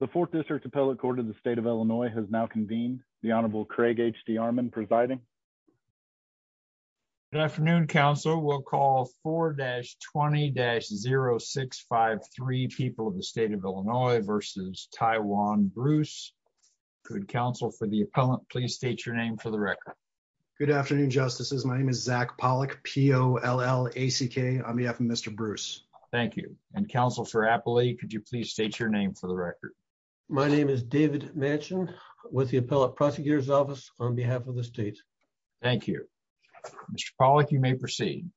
The Fourth District Appellate Court of the State of Illinois has now convened. The Honorable Craig H.D. Armon presiding. Good afternoon, Counsel. We'll call 4-20-0653, People of the State of Illinois v. Taiwan Bruce. Good afternoon, Counsel. For the appellant, please state your name for the record. Good afternoon, Justices. My name is Zach Pollack, P-O-L-L-A-C-K. On behalf of Mr. Bruce. Thank you. And Counsel for Appley, could you please state your name for the record? My name is David Manchin with the Appellate Prosecutor's Office on behalf of the state. Thank you. Mr. Pollack, you may proceed.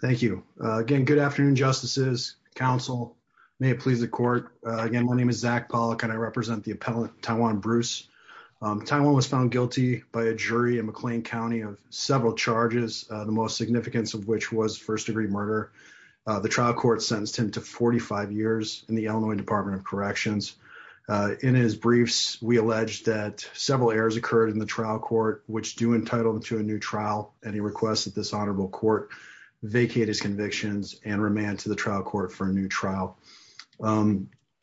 Thank you. Again, good afternoon, Justices, Counsel. May it please the Court. Again, my name is Zach Pollack and I represent the appellant, Taiwan Bruce. Taiwan was found guilty by a jury in McLean County of several charges, the most significant of which was first-degree murder. The trial court sentenced him to 45 years in the Illinois Department of Corrections. In his briefs, we allege that several errors occurred in the trial court, which do entitle him to a new trial. And he requests that this honorable court vacate his convictions and remand to the trial court for a new trial.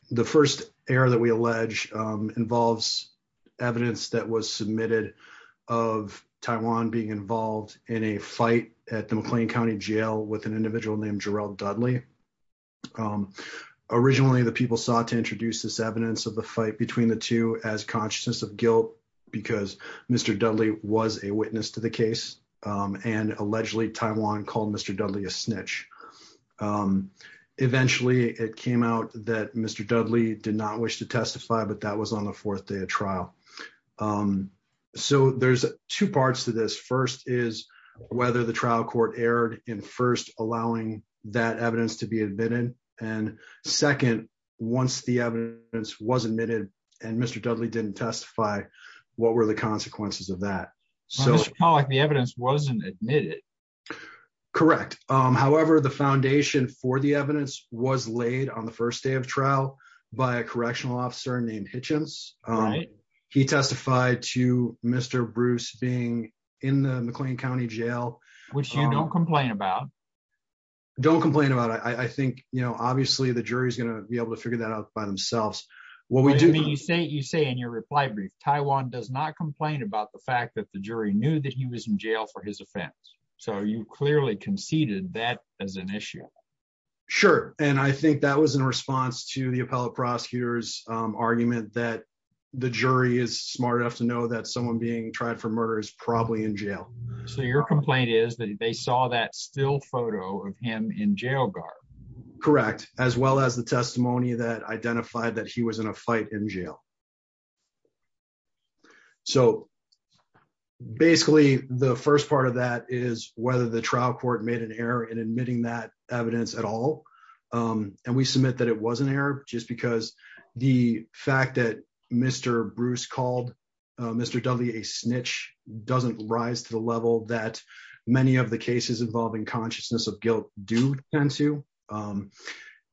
The first error that we allege involves evidence that was submitted of Taiwan being involved in a fight at the McLean County Jail with an individual named Jarell Dudley. Originally, the people sought to introduce this evidence of the fight between the two as consciousness of guilt, because Mr. Dudley was a witness to the case, and allegedly Taiwan called Mr. Dudley a snitch. Eventually, it came out that Mr. Dudley did not wish to testify, but that was on the fourth day of trial. So there's two parts to this. First is whether the trial court erred in first allowing that evidence to be admitted, and second, once the evidence was admitted and Mr. Dudley didn't testify, what were the consequences of that? Mr. Pollack, the evidence wasn't admitted. Correct. However, the foundation for the evidence was laid on the first day of trial by a correctional officer named Hitchens. He testified to Mr. Bruce being in the McLean County Jail. Which you don't complain about. Don't complain about. I think, you know, obviously the jury's going to be able to figure that out by themselves. You say in your reply brief, Taiwan does not complain about the fact that the jury knew that he was in jail for his offense. So you clearly conceded that as an issue. Sure, and I think that was in response to the appellate prosecutor's argument that the jury is smart enough to know that someone being tried for murder is probably in jail. So your complaint is that they saw that still photo of him in jail guard. Correct, as well as the testimony that identified that he was in a fight in jail. So, basically, the first part of that is whether the trial court made an error in admitting that evidence at all. And we submit that it was an error, just because the fact that Mr. Bruce called Mr. Dudley a snitch doesn't rise to the level that many of the cases involving consciousness of guilt do tend to.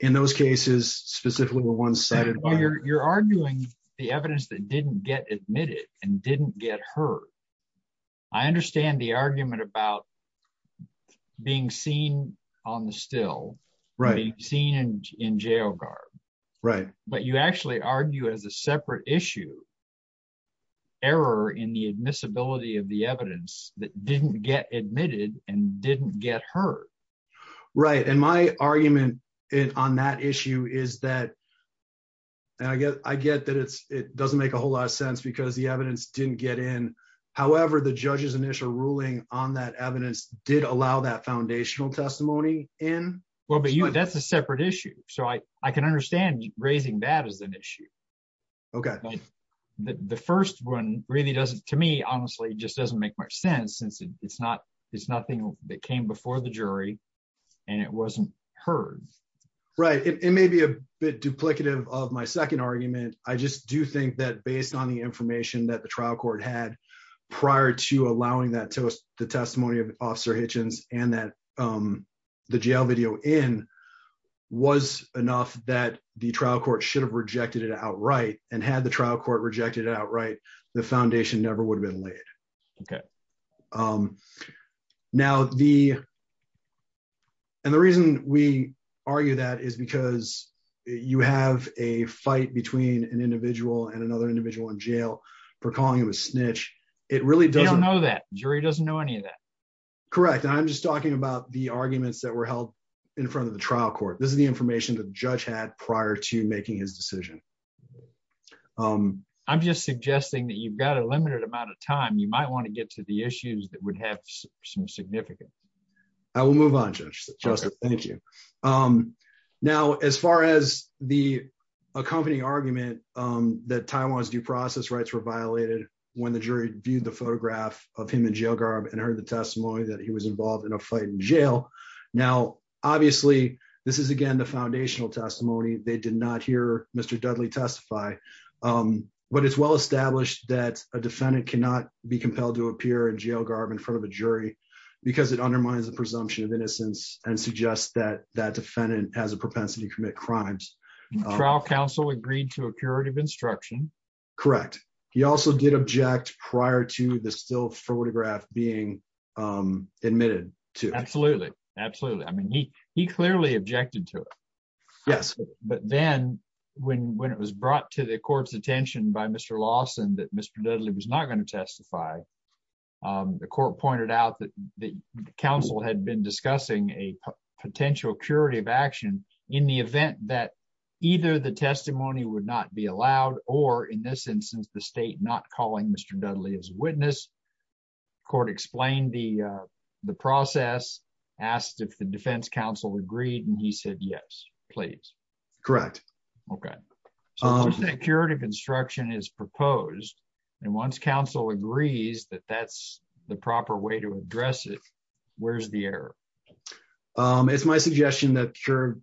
In those cases, specifically the ones cited. You're arguing the evidence that didn't get admitted and didn't get heard. I understand the argument about being seen on the still, being seen in jail guard. But you actually argue as a separate issue, error in the admissibility of the evidence that didn't get admitted and didn't get heard. Right. And my argument on that issue is that I get that it doesn't make a whole lot of sense because the evidence didn't get in. However, the judge's initial ruling on that evidence did allow that foundational testimony in. Well, but that's a separate issue. So I can understand raising that as an issue. Okay. The first one really doesn't, to me, honestly, just doesn't make much sense since it's not, it's nothing that came before the jury, and it wasn't heard. Right. It may be a bit duplicative of my second argument, I just do think that based on the information that the trial court had prior to allowing that to the testimony of Officer Hitchens, and that the jail video in was enough that the trial court should have rejected it outright and had the trial court rejected outright the foundation never would have been laid. Okay. Now the. And the reason we argue that is because you have a fight between an individual and another individual in jail for calling him a snitch. It really doesn't know that jury doesn't know any of that. Correct. I'm just talking about the arguments that were held in front of the trial court, this is the information that judge had prior to making his decision. I'm just suggesting that you've got a limited amount of time you might want to get to the issues that would have some significance. I will move on to just thank you. Now, as far as the accompanying argument that Taiwan's due process rights were violated. When the jury viewed the photograph of him in jail garb and heard the testimony that he was involved in a fight in jail. Now, obviously, this is again the foundational testimony, they did not hear Mr Dudley testify. But it's well established that a defendant cannot be compelled to appear in jail garb in front of a jury, because it undermines the presumption of innocence and suggest that that defendant has a propensity to commit crimes trial counsel agreed to a curative instruction. Correct. He also did object prior to the still photograph being admitted to absolutely, absolutely. I mean he he clearly objected to it. But then, when when it was brought to the court's attention by Mr Lawson that Mr Dudley was not going to testify. The court pointed out that the council had been discussing a potential curative action in the event that either the testimony would not be allowed, or in this instance the state not calling Mr Dudley as witness. The court explained the, the process asked if the defense counsel agreed and he said yes, please. Correct. Okay. Curative instruction is proposed. And once Council agrees that that's the proper way to address it. Where's the error. It's my suggestion that your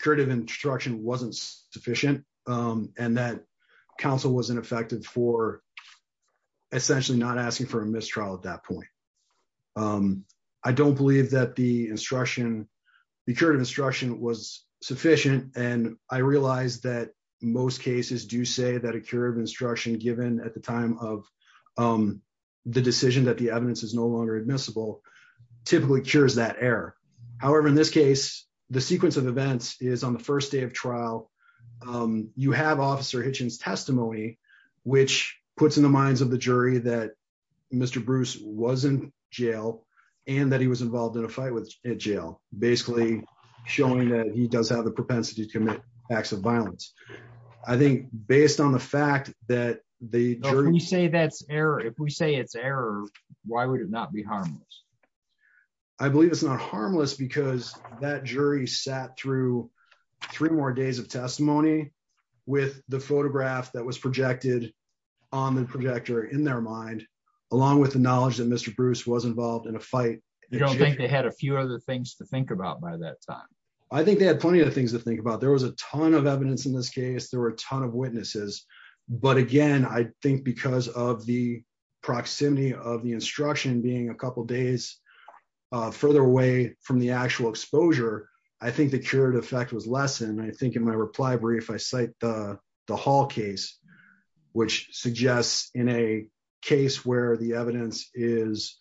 creative instruction wasn't sufficient, and that Council was ineffective for essentially not asking for a mistrial at that point. I don't believe that the instruction, the curative instruction was sufficient, and I realized that most cases do say that a curative instruction given at the time of the decision that the evidence is no longer admissible typically cures that error. However, in this case, the sequence of events is on the first day of trial. You have Officer Hitchens testimony, which puts in the minds of the jury that Mr Bruce wasn't jail, and that he was involved in a fight with jail, basically showing that he does have the propensity to commit acts of violence. I think, based on the fact that the jury say that's error if we say it's error. Why would it not be harmless. I believe it's not harmless because that jury sat through three more days of testimony with the photograph that was projected on the projector in their mind, along with the knowledge that Mr Bruce was involved in a fight. They had a few other things to think about by that time. I think they had plenty of things to think about there was a ton of evidence in this case there were a ton of witnesses. But again, I think because of the proximity of the instruction being a couple days. Further away from the actual exposure. I think the current effect was lesson I think in my reply brief I cite the hall case, which suggests in a case where the evidence is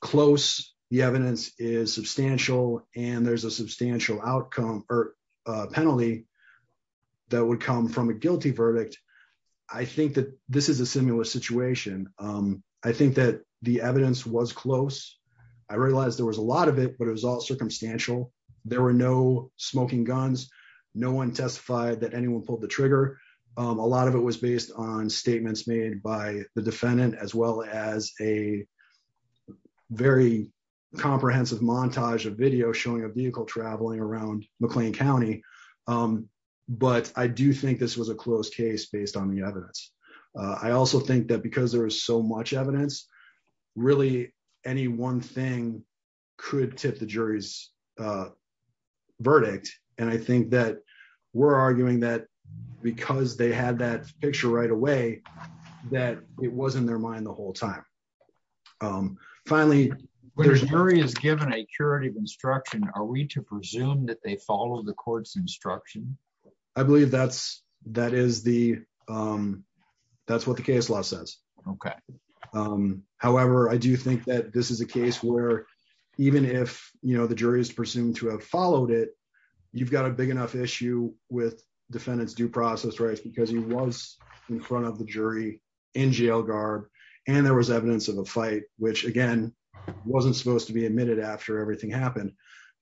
close, the evidence is substantial, and there's a substantial outcome or penalty. That would come from a guilty verdict. I think that this is a similar situation. I think that the evidence was close. I realized there was a lot of it but it was all circumstantial. There were no smoking guns. No one testified that anyone pulled the trigger. A lot of it was based on statements made by the defendant as well as a very comprehensive montage of video showing a vehicle traveling around McLean County. But I do think this was a close case based on the evidence. I also think that because there was so much evidence, really, any one thing could tip the jury's verdict, and I think that we're arguing that because they had that picture right away that it wasn't their mind the whole time. Finally, there's a jury is given a curative instruction, are we to presume that they follow the court's instruction. I believe that's, that is the. That's what the case law says, okay. was in front of the jury in jail guard, and there was evidence of a fight, which again, wasn't supposed to be admitted after everything happened.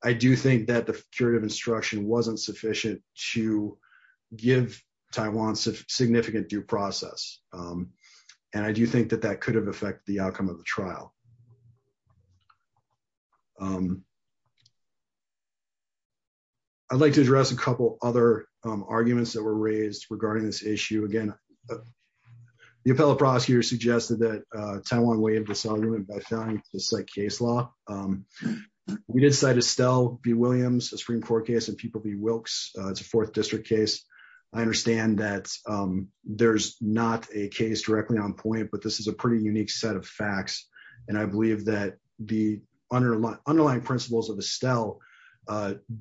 I do think that the curative instruction wasn't sufficient to give Taiwan's significant due process. And I do think that that could have affected the outcome of the trial. I'd like to address a couple other arguments that were raised regarding this issue again. The appellate prosecutor suggested that Taiwan way of disarmament by finding this like case law. We decided to sell be Williams Supreme Court case and people be Wilkes, it's a fourth district case. I understand that there's not a case directly on point but this is a pretty unique set of facts, and I believe that the underlying underlying principles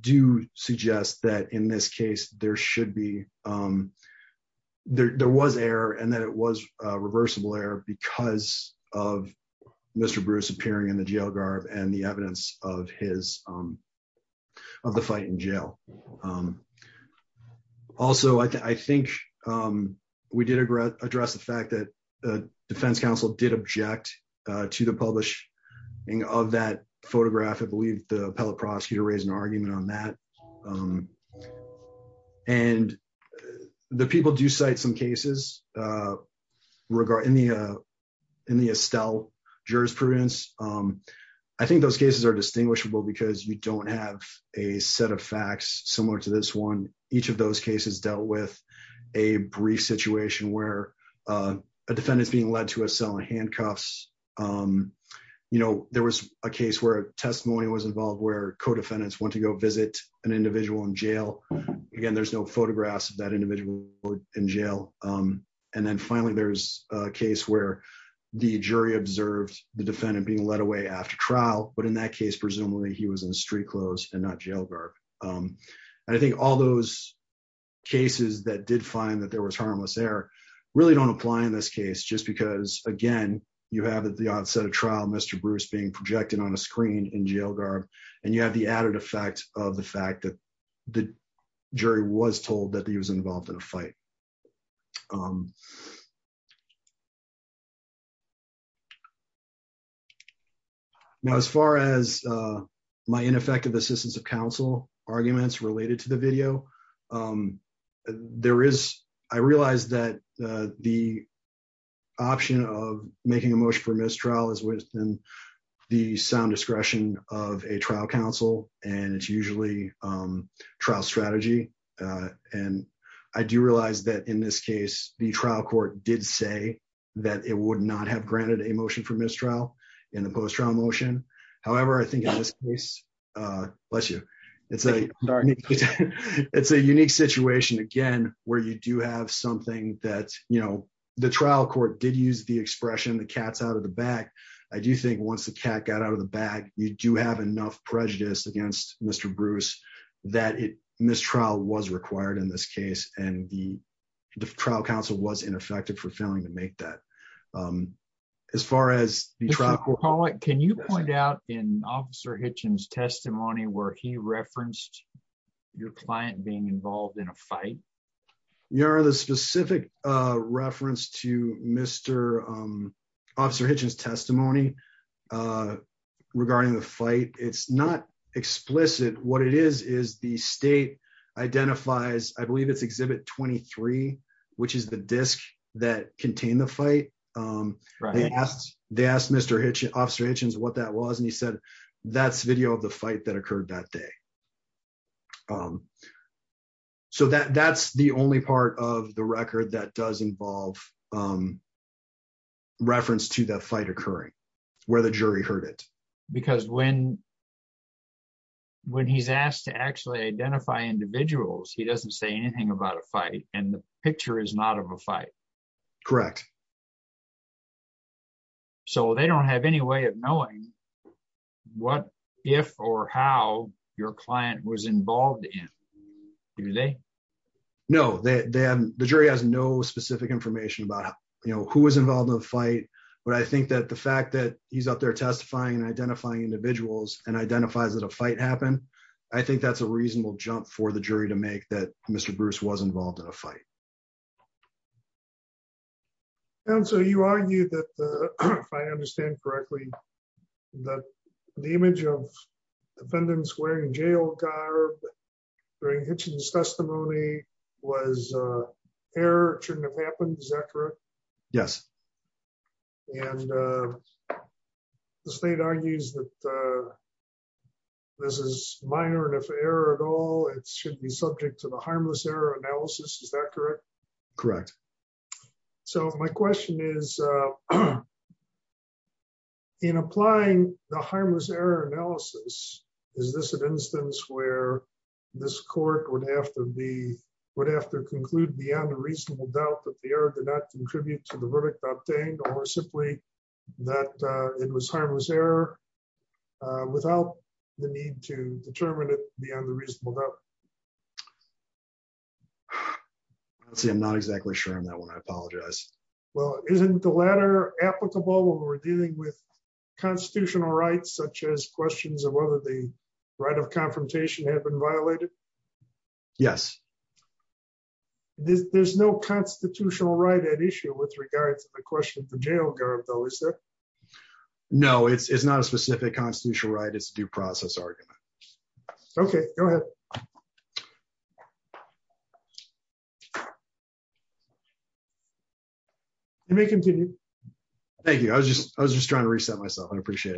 do suggest that in this case, there should be. There was error and that it was reversible error because of Mr. Bruce appearing in the jail guard and the evidence of his of the fight in jail. Also, I think we did a great address the fact that the defense counsel did object to the publishing of that photograph I believe the appellate prosecutor raise an argument on that. And the people do cite some cases. Regarding the in the Estelle jurisprudence. I think those cases are distinguishable because you don't have a set of facts, similar to this one, each of those cases dealt with a brief situation where a defendant is being led to a cell and handcuffs. You know, there was a case where testimony was involved where co defendants want to go visit an individual in jail. Again, there's no photographs that individual in jail. And then finally there's a case where the jury observed the defendant being led away after trial, but in that case, presumably he was in the street clothes and not jail guard. I think all those cases that did find that there was harmless air really don't apply in this case just because, again, you have at the outset of trial Mr Bruce being projected on a screen in jail guard, and you have the added effect of the fact that the jury was told that he was involved in a fight. So, as far as my ineffective assistance of counsel arguments related to the video. There is, I realized that the option of making a motion for mistrial is within the sound discretion of a trial counsel, and it's usually trial strategy. And I do realize that in this case, the trial court did say that it would not have granted a motion for mistrial in the post trial motion. However, I think in this case, bless you. It's a, it's a unique situation again, where you do have something that, you know, the trial court did use the expression the cats out of the back. I do think once the cat got out of the bag, you do have enough prejudice against Mr Bruce, that it mistrial was required in this case, and the trial counsel was ineffective for failing to make that. As far as the truck will call it, can you point out in officer Hitchens testimony where he referenced your client being involved in a fight. You are the specific reference to Mr. Officer Hitchens testimony regarding the fight, it's not explicit what it is is the state identifies, I believe it's exhibit 23, which is the disk that contain the fight. They asked, they asked Mr Hitch officer Hitchens what that was and he said, that's video of the fight that occurred that day. So that that's the only part of the record that does involve reference to that fight occurring where the jury heard it, because when, when he's asked to actually identify individuals he doesn't say anything about a fight, and the picture is not have a fight. Correct. So they don't have any way of knowing what, if or how your client was involved in today. No, then the jury has no specific information about, you know, who was involved in the fight, but I think that the fact that he's out there testifying identifying individuals and identifies that a fight happened. I think that's a reasonable jump for the jury to make that Mr Bruce was involved in a fight. And so you argue that, if I understand correctly, that the image of defendants wearing jail guard during Hitchens testimony was error shouldn't have happened is that correct. Yes. And the state argues that this is minor enough error at all it should be subject to the harmless error analysis is that correct. Correct. So my question is, in applying the harmless error analysis. Is this an instance where this court would have to be would have to conclude beyond a reasonable doubt that the error did not contribute to the verdict obtained or simply that it was harmless error. Without the need to determine it beyond the reasonable doubt. See I'm not exactly sure on that one I apologize. Well, isn't the latter applicable when we're dealing with constitutional rights such as questions of whether the right of confrontation have been violated. Yes. There's no constitutional right at issue with regards to the question for jail guard though is there. No, it's not a specific constitutional right it's due process argument. Okay, go ahead. You may continue. Thank you. I was just, I was just trying to reset myself and appreciate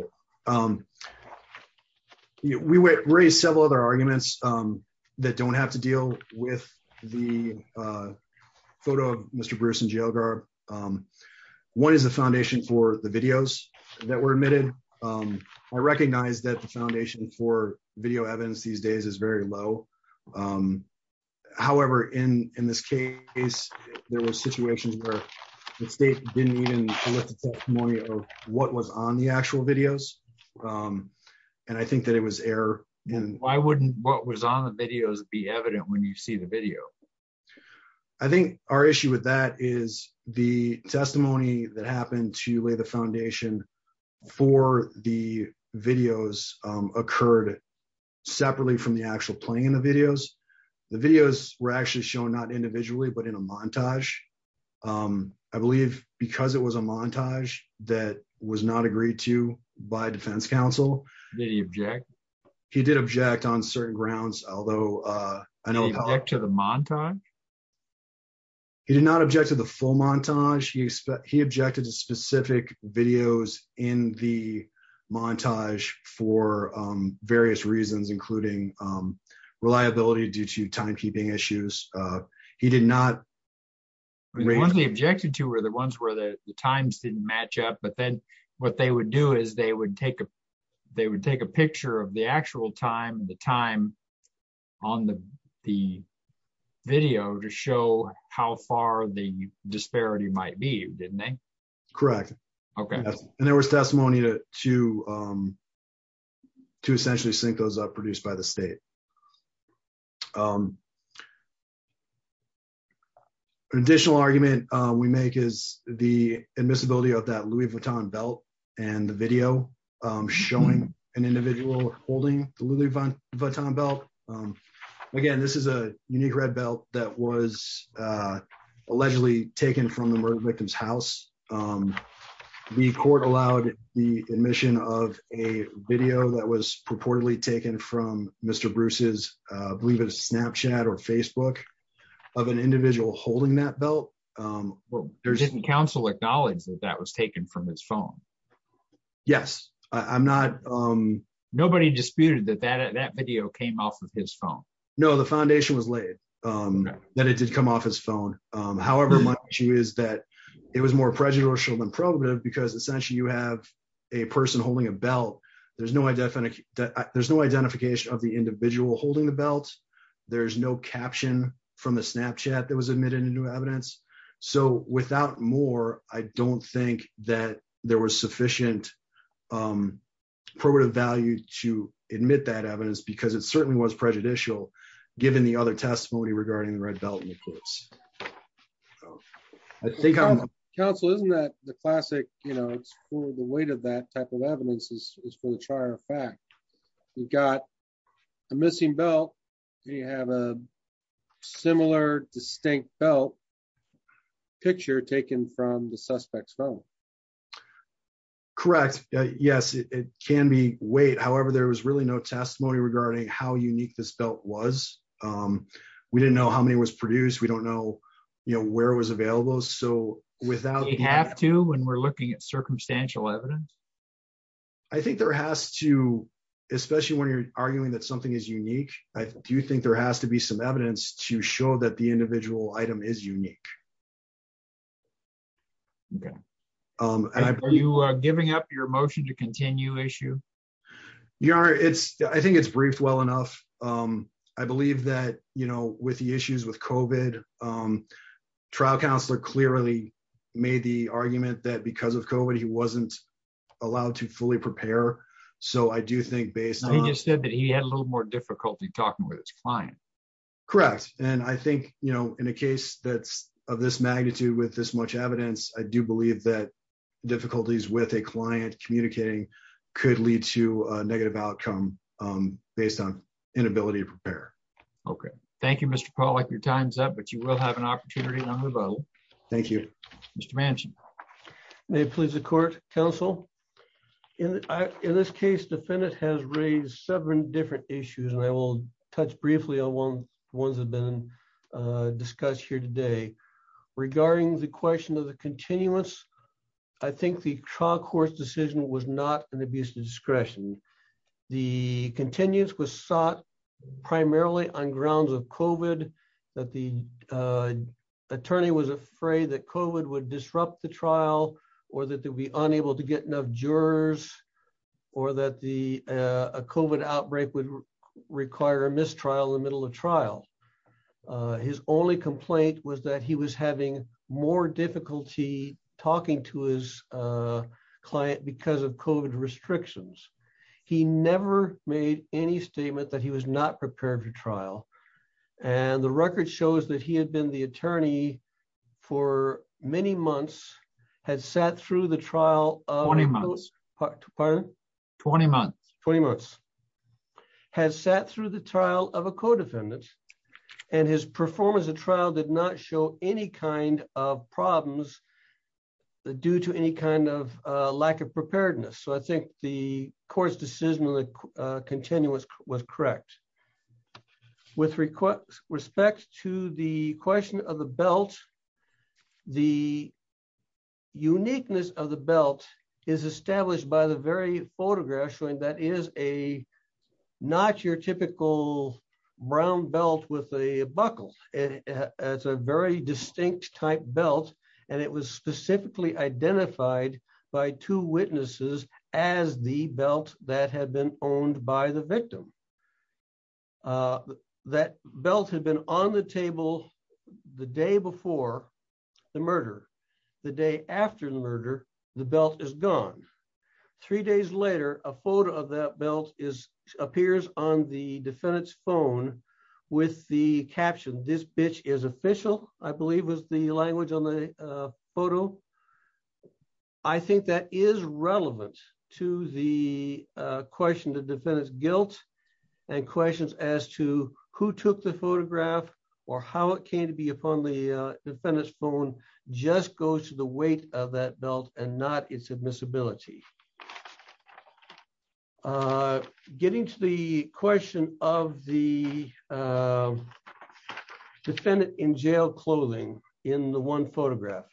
it. We were raised several other arguments that don't have to deal with the photo of Mr. Bruce and yoga. What is the foundation for the videos that were admitted. I recognize that the foundation for video evidence these days is very low. However, in this case, there was situations where the state didn't even know what was on the actual videos. And I think that it was error. And why wouldn't what was on the videos be evident when you see the video. I think our issue with that is the testimony that happened to lay the foundation for the videos occurred separately from the actual playing in the videos, the videos were actually shown not individually but in a montage. I believe, because it was a montage, that was not agreed to by Defense Council, the object. He did object on certain grounds, although I know back to the montage. He did not object to the full montage he he objected to specific videos in the montage for various reasons including reliability due to timekeeping issues. He did not really objected to were the ones where the times didn't match up but then what they would do is they would take a, they would take a picture of the actual time the time on the, the video to show how far the disparity might be didn't correct. Okay, and there was testimony to to to essentially sync those up produced by the state. Um, additional argument, we make is the admissibility of that Louis Vuitton belt, and the video, showing an individual holding the Louis Vuitton belt. Again, this is a unique red belt that was allegedly taken from the murder victims house. The court allowed the admission of a video that was purportedly taken from Mr. Bruce's believe it a Snapchat or Facebook of an individual holding that belt. There's any counsel acknowledge that that was taken from his phone. Yes, I'm not. Nobody disputed that that that video came off of his phone. No, the foundation was late. That it did come off his phone. However, she is that it was more prejudicial than probably because essentially you have a person holding a belt. There's no I definitely that there's no identification of the individual holding the belt. There's no caption from the Snapchat that was admitted into evidence. So, without more, I don't think that there was sufficient probative value to admit that evidence because it certainly was prejudicial, given the other testimony regarding the red belt. I think council isn't that the classic, you know, the weight of that type of evidence is for the char of fact, you've got a missing belt. You have a similar distinct belt picture taken from the suspect's phone. Correct. Yes, it can be wait however there was really no testimony regarding how unique this belt was. We didn't know how many was produced we don't know you know where it was available so without you have to when we're looking at circumstantial evidence. I think there has to, especially when you're arguing that something is unique. I do think there has to be some evidence to show that the individual item is unique. Okay. Um, are you giving up your motion to continue issue. Yeah, it's, I think it's briefed well enough. Um, I believe that, you know, with the issues with coven trial counselor clearly made the argument that because of code he wasn't allowed to fully prepare. So I do think based on you said that he had a little more difficulty talking with his client. Correct. And I think, you know, in a case that's of this magnitude with this much evidence, I do believe that difficulties with a client communicating could lead to negative outcome, based on inability to prepare. Okay, thank you Mr Paul like your time's up but you will have an opportunity to move on. Thank you, Mr mansion. May please the court counsel. In this case defendant has raised seven different issues and I will touch briefly on one ones have been discussed here today. Regarding the question of the continuous. I think the trial court decision was not an abuse discretion. The continuous was sought, primarily on grounds of coven that the attorney was afraid that code would disrupt the trial, or that there'll be unable to get enough jurors, or that the coven outbreak would require a mistrial in the middle of trial. His only complaint was that he was having more difficulty talking to his client because of code restrictions. He never made any statement that he was not prepared for trial. And the record shows that he had been the attorney for many months has sat through the trial of 20 months has sat through the trial of a codefendant, and his performance of trial did not show any kind of problems. Due to any kind of lack of preparedness so I think the court's decision to continue with with correct with request, respect to the question of the belt. The uniqueness of the belt is established by the very photograph showing that is a not your typical brown belt with a buckle. It's a very distinct type belt, and it was specifically identified by two witnesses as the belt that had been owned by the victim. That belt had been on the table. The day before the murder. The day after the murder, the belt is gone. Three days later, a photo of that belt is appears on the defendant's phone with the caption this bitch is official, I believe was the language on the photo. I think that is relevant to the question to defend his guilt and questions as to who took the photograph, or how it came to be upon the defendants phone just goes to the weight of that belt and not it's admissibility. Getting to the question of the defendant in jail clothing in the one photograph.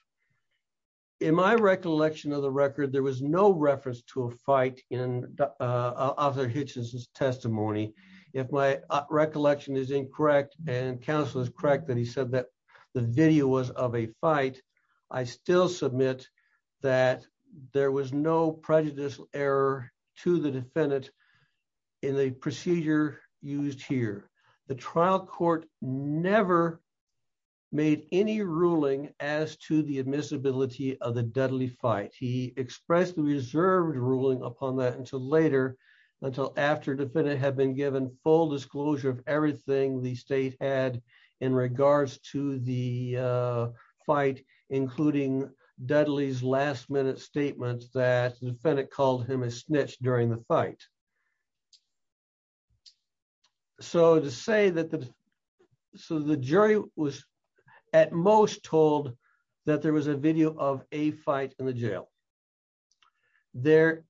In my recollection of the record there was no reference to a fight in other hitches testimony. If my recollection is incorrect, and counselors correct that he said that the video was of a fight. I still submit that there was no prejudice error to the defendant in the procedure used here. The trial court, never made any ruling as to the admissibility of the deadly fight he expressed the reserved ruling upon that until later, until after the defendant had been given full disclosure of everything the state had in regards to the fight, including deadly his last minute statements that the defendant called him a snitch during the fight. So to say that the. So the jury was at most told that there was a video of a fight in the jail. There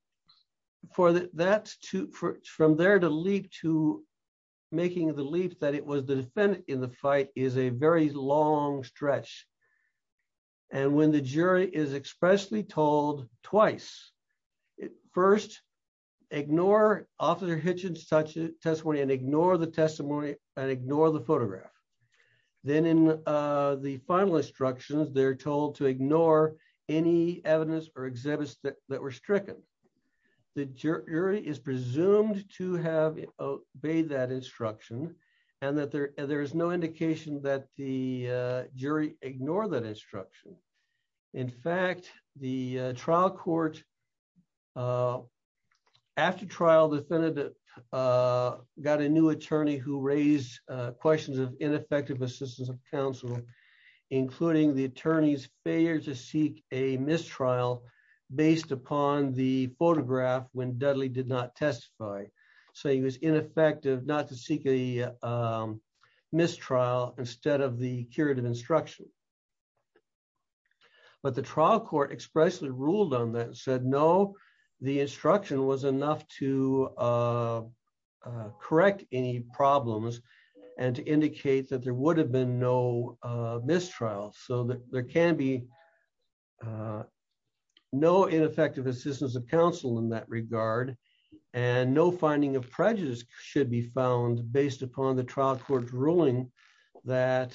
for that that's to from there to lead to making the leaf that it was the defendant in the fight is a very long stretch. And when the jury is expressly told twice. First, ignore officer hitches such a testimony and ignore the testimony and ignore the photograph. Then in the final instructions they're told to ignore any evidence or exhibits that were stricken the jury is presumed to have obeyed that instruction, and that there, there is no indication that the jury ignore that instruction. In fact, the trial court. After trial defendant. Got a new attorney who raised questions of ineffective assistance of counsel, including the attorneys failure to seek a mistrial based upon the photograph when Dudley did not testify. So he was ineffective not to seek a mistrial instead of the curative instruction. But the trial court expressly ruled on that said no. The instruction was enough to correct any problems, and to indicate that there would have been no mistrial so that there can be no ineffective assistance of counsel in that regard. And no finding of prejudice should be found based upon the trial court ruling that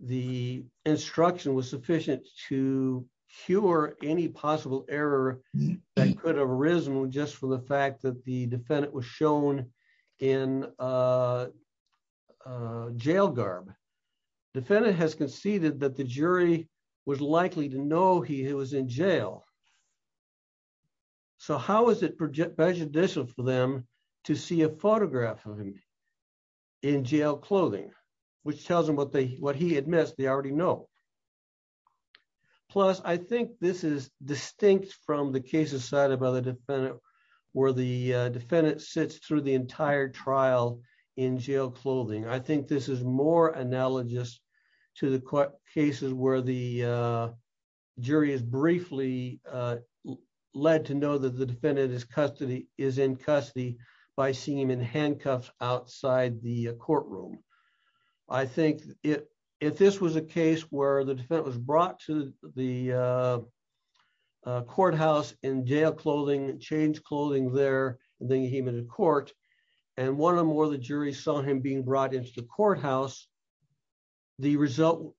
the instruction was sufficient to cure any possible error that could have arisen just from the fact that the defendant was shown in jail guard. Defendant has conceded that the jury was likely to know he was in jail. So how is it project prejudicial for them to see a photograph of him in jail clothing, which tells them what they what he admits they already know. Plus, I think this is distinct from the cases side of other defendant, where the defendant sits through the entire trial in jail clothing I think this is more analogous to the court cases where the jury is briefly led to know that the defendant is custody is in custody by seeing him in handcuffs outside the courtroom. I think it. If this was a case where the defense was brought to the courthouse in jail clothing change clothing there, the human in court, and one or more the jury saw him being brought into the courthouse. The result.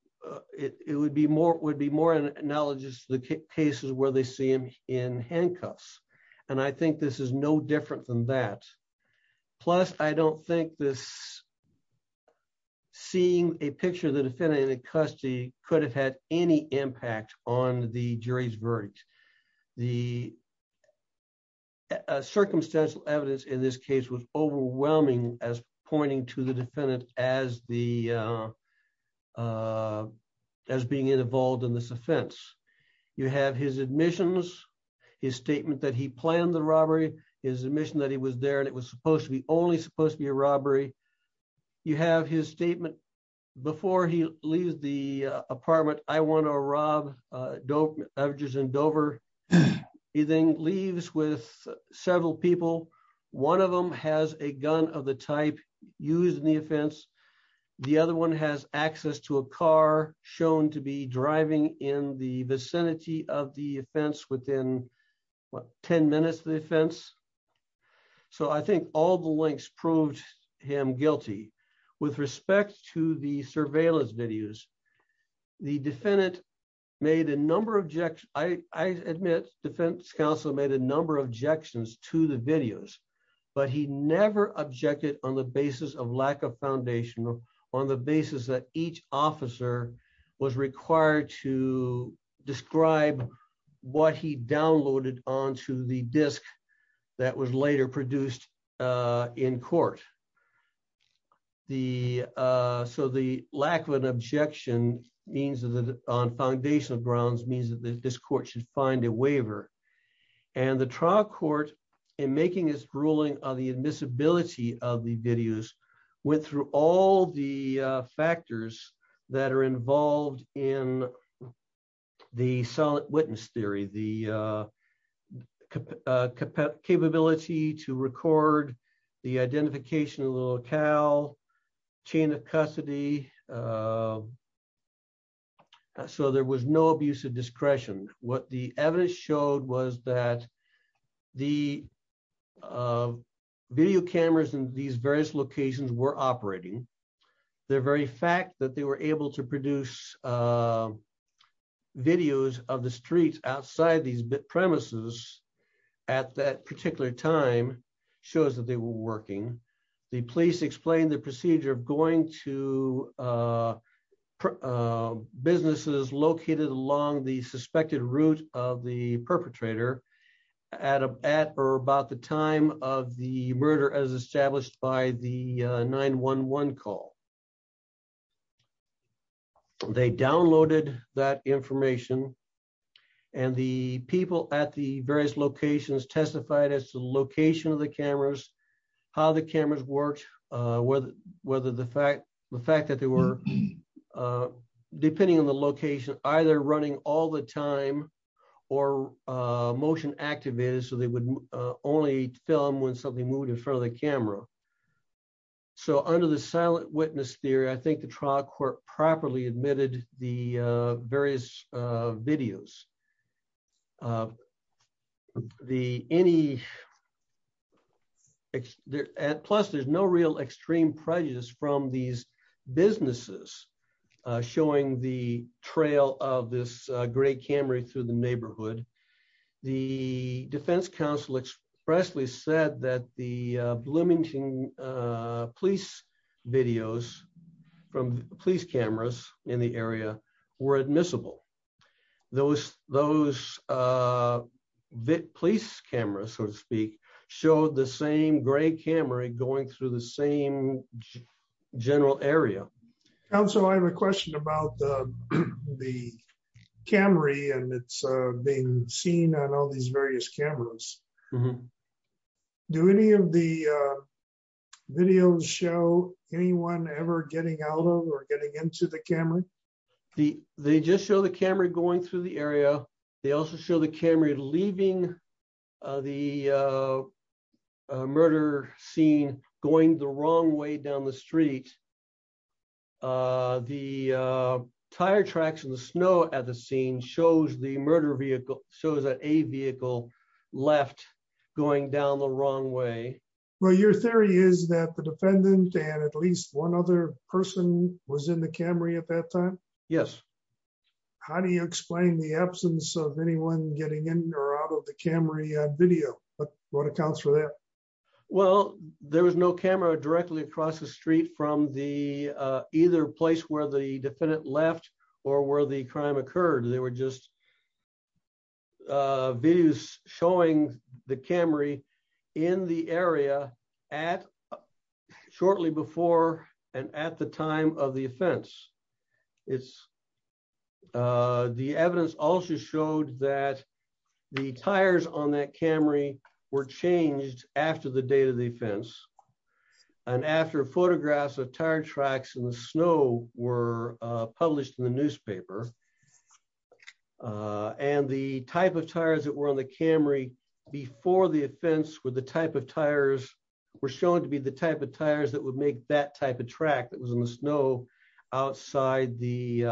It would be more would be more analogous the cases where they see him in handcuffs. And I think this is no different than that. Plus, I don't think this seeing a picture of the defendant in custody, could have had any impact on the jury's verdict. The circumstantial evidence in this case was overwhelming as pointing to the defendant as the as being involved in this offense. You have his admissions, his statement that he planned the robbery is admission that he was there and it was supposed to be only supposed to be a robbery. You have his statement. Before he leaves the apartment, I want to rob dope averages in Dover. He then leaves with several people. One of them has a gun of the type, using the offense. The other one has access to a car, shown to be driving in the vicinity of the offense within 10 minutes the offense. So I think all the links proved him guilty. With respect to the surveillance videos. The defendant made a number of objects, I admit defense counsel made a number of objections to the videos, but he never objected on the basis of lack of foundation on the basis that each officer was required to describe what he downloaded onto the disk. That was later produced in court. The. So the lack of an objection means that on foundational grounds means that this court should find a waiver, and the trial court in making his ruling on the admissibility of the videos went through all the factors that are involved in the solid witness theory the capability to record the identification a little cow chain of custody. So there was no abuse of discretion, what the evidence showed was that the video cameras in these various locations were operating their very fact that they were able to produce videos of the street outside these bit premises. At that particular time, shows that they were working. The police explained the procedure of going to businesses located along the suspected route of the perpetrator Adam at or about the time of the murder as established by the 911 call. They downloaded that information, and the people at the various locations testified as the location of the cameras, how the cameras work, whether, whether the fact, the fact that they were depending on the location, either running all the time, or motion activated so they would only film when something moved in front of the camera. So under the silent witness theory I think the trial court properly admitted the various videos. The any at plus there's no real extreme prejudice from these businesses, showing the trail of this great camera through the neighborhood. The Defense Council expressly said that the Bloomington police videos from police cameras in the area were admissible. Those, those bit police cameras, so to speak, showed the same great camera and going through the same general area. So I have a question about the Camry and it's been seen on all these various cameras. Do any of the videos show anyone ever getting out of or getting into the camera. The, they just show the camera going through the area. They also show the camera leaving the murder scene, going the wrong way down the street. The tire tracks and the snow at the scene shows the murder vehicle shows that a vehicle left going down the wrong way. Well, your theory is that the defendant and at least one other person was in the Camry at that time. Yes. How do you explain the absence of anyone getting in or out of the Camry video, but what accounts for that. Well, there was no camera directly across the street from the either place where the defendant left or where the crime occurred, they were just videos showing the Camry in the area at shortly before and at the time of the offense. It's The evidence also showed that the tires on that Camry were changed after the date of the offense. And after photographs of tire tracks in the snow were published in the newspaper. And the type of tires that were on the Camry before the offense with the type of tires were shown to be the type of tires that would make that type of track that was in the snow outside the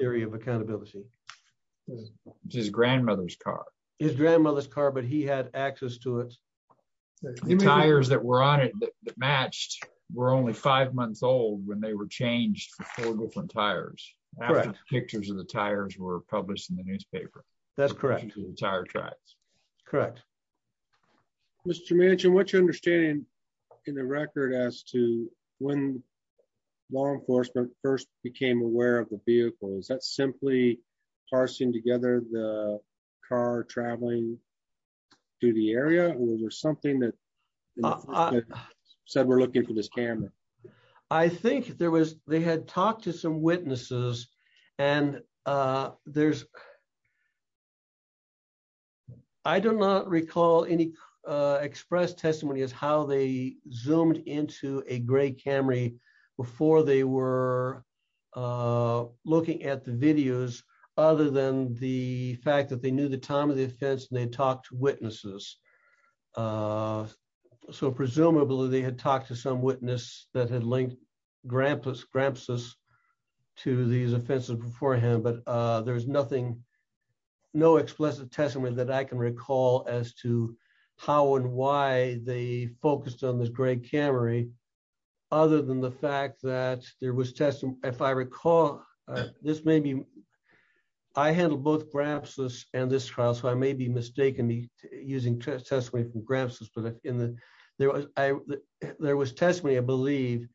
area of accountability. His grandmother's car, his grandmother's car, but he had access to it. The tires that were on it that matched were only five months old when they were changed from tires pictures of the tires were published in the newspaper. Mr mentioned what you understand in the record as to when law enforcement first became aware of the vehicle is that simply parsing together the car traveling to the area or something that said we're looking for this camera. I think there was, they had talked to some witnesses, and there's. I do not recall any express testimony is how they zoomed into a great Camry before they were looking at the videos, other than the fact that they knew the time of the offense and they talked to witnesses. So presumably they had talked to some witness that had linked grandpa's gramps us to these offenses beforehand but there's nothing. No explicit testimony that I can recall as to how and why they focused on this great Camry. Other than the fact that there was testing. If I recall, this may be. I had both gramps us, and this trial so I may be mistaken me using testimony from gramps us but in the, there was, there was testimony I believe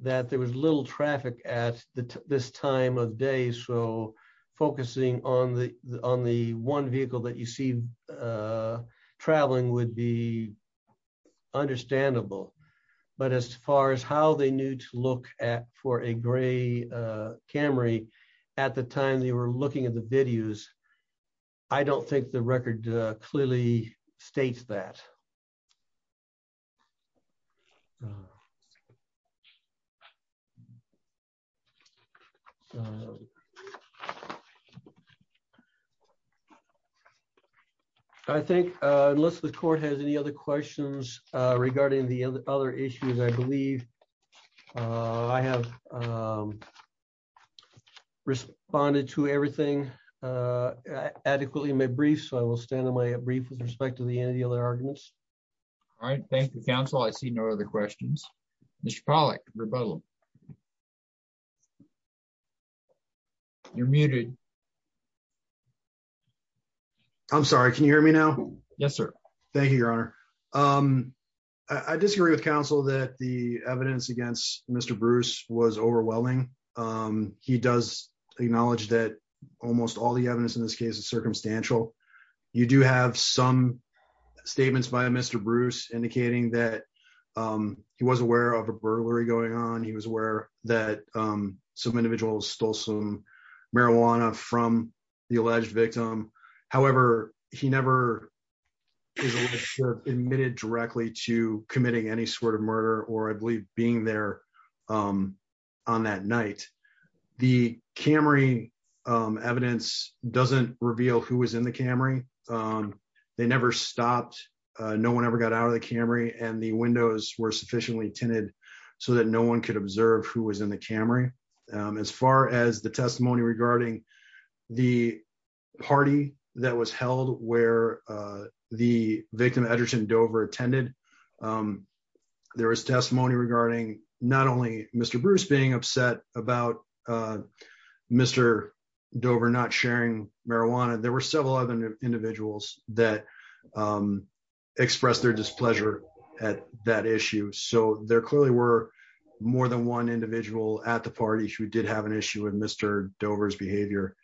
that there was little traffic at this time of day so focusing on the, on the one vehicle that you see traveling would be understandable. But as far as how they need to look at for a gray Camry. At the time they were looking at the videos. I don't think the record clearly states that. So, I think, unless the court has any other questions regarding the other issues I believe I have responded to everything adequately my brief so I will stand on my brief with respect to the any other arguments. All right, thank you counsel I see no other questions, Mr Pollack rebuttal. You're muted. I'm sorry. Can you hear me now. Yes, sir. Thank you, Your Honor. I disagree with counsel that the evidence against Mr Bruce was overwhelming. He does acknowledge that almost all the evidence in this case is circumstantial. You do have some statements by Mr Bruce indicating that he was aware of a burglary going on he was aware that some individuals stole some marijuana from the alleged victim. However, he never admitted directly to committing any sort of murder or I believe being there on that night. The Camry evidence doesn't reveal who was in the Camry. They never stopped. No one ever got out of the Camry and the windows were sufficiently tinted so that no one could observe who was in the Camry. As far as the testimony regarding the party that was held where the victim Edgerton Dover attended. There was testimony regarding not only Mr Bruce being upset about Mr. Dover not sharing marijuana there were several other individuals that express their displeasure at that issue so there clearly were more than one individual at the parties who did have an issue with Mr Dover's behavior.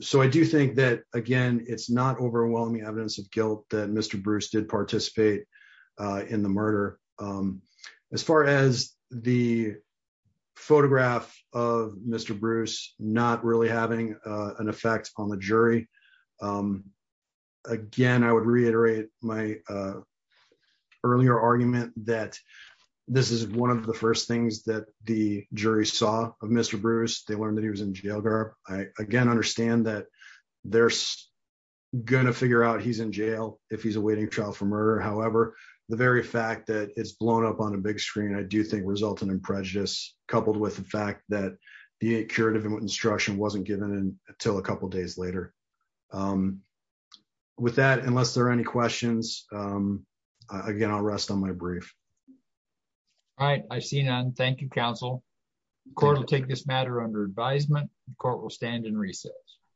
So I do think that, again, it's not overwhelming evidence of guilt that Mr Bruce did participate in the murder. As far as the photograph of Mr Bruce, not really having an effect on the jury. Again, I would reiterate my earlier argument that this is one of the first things that the jury saw of Mr Bruce, they learned that he was in jail guard, I again understand that they're going to figure out he's in jail, if he's awaiting trial for murder however, the very fact that it's blown up on a big screen I do think resulted in prejudice, coupled with the fact that the curative instruction wasn't given until a couple days later. With that, unless there are any questions. Again, I'll rest on my brief. All right, I see none. Thank you, counsel. Court will take this matter under advisement. Court will stand in recess.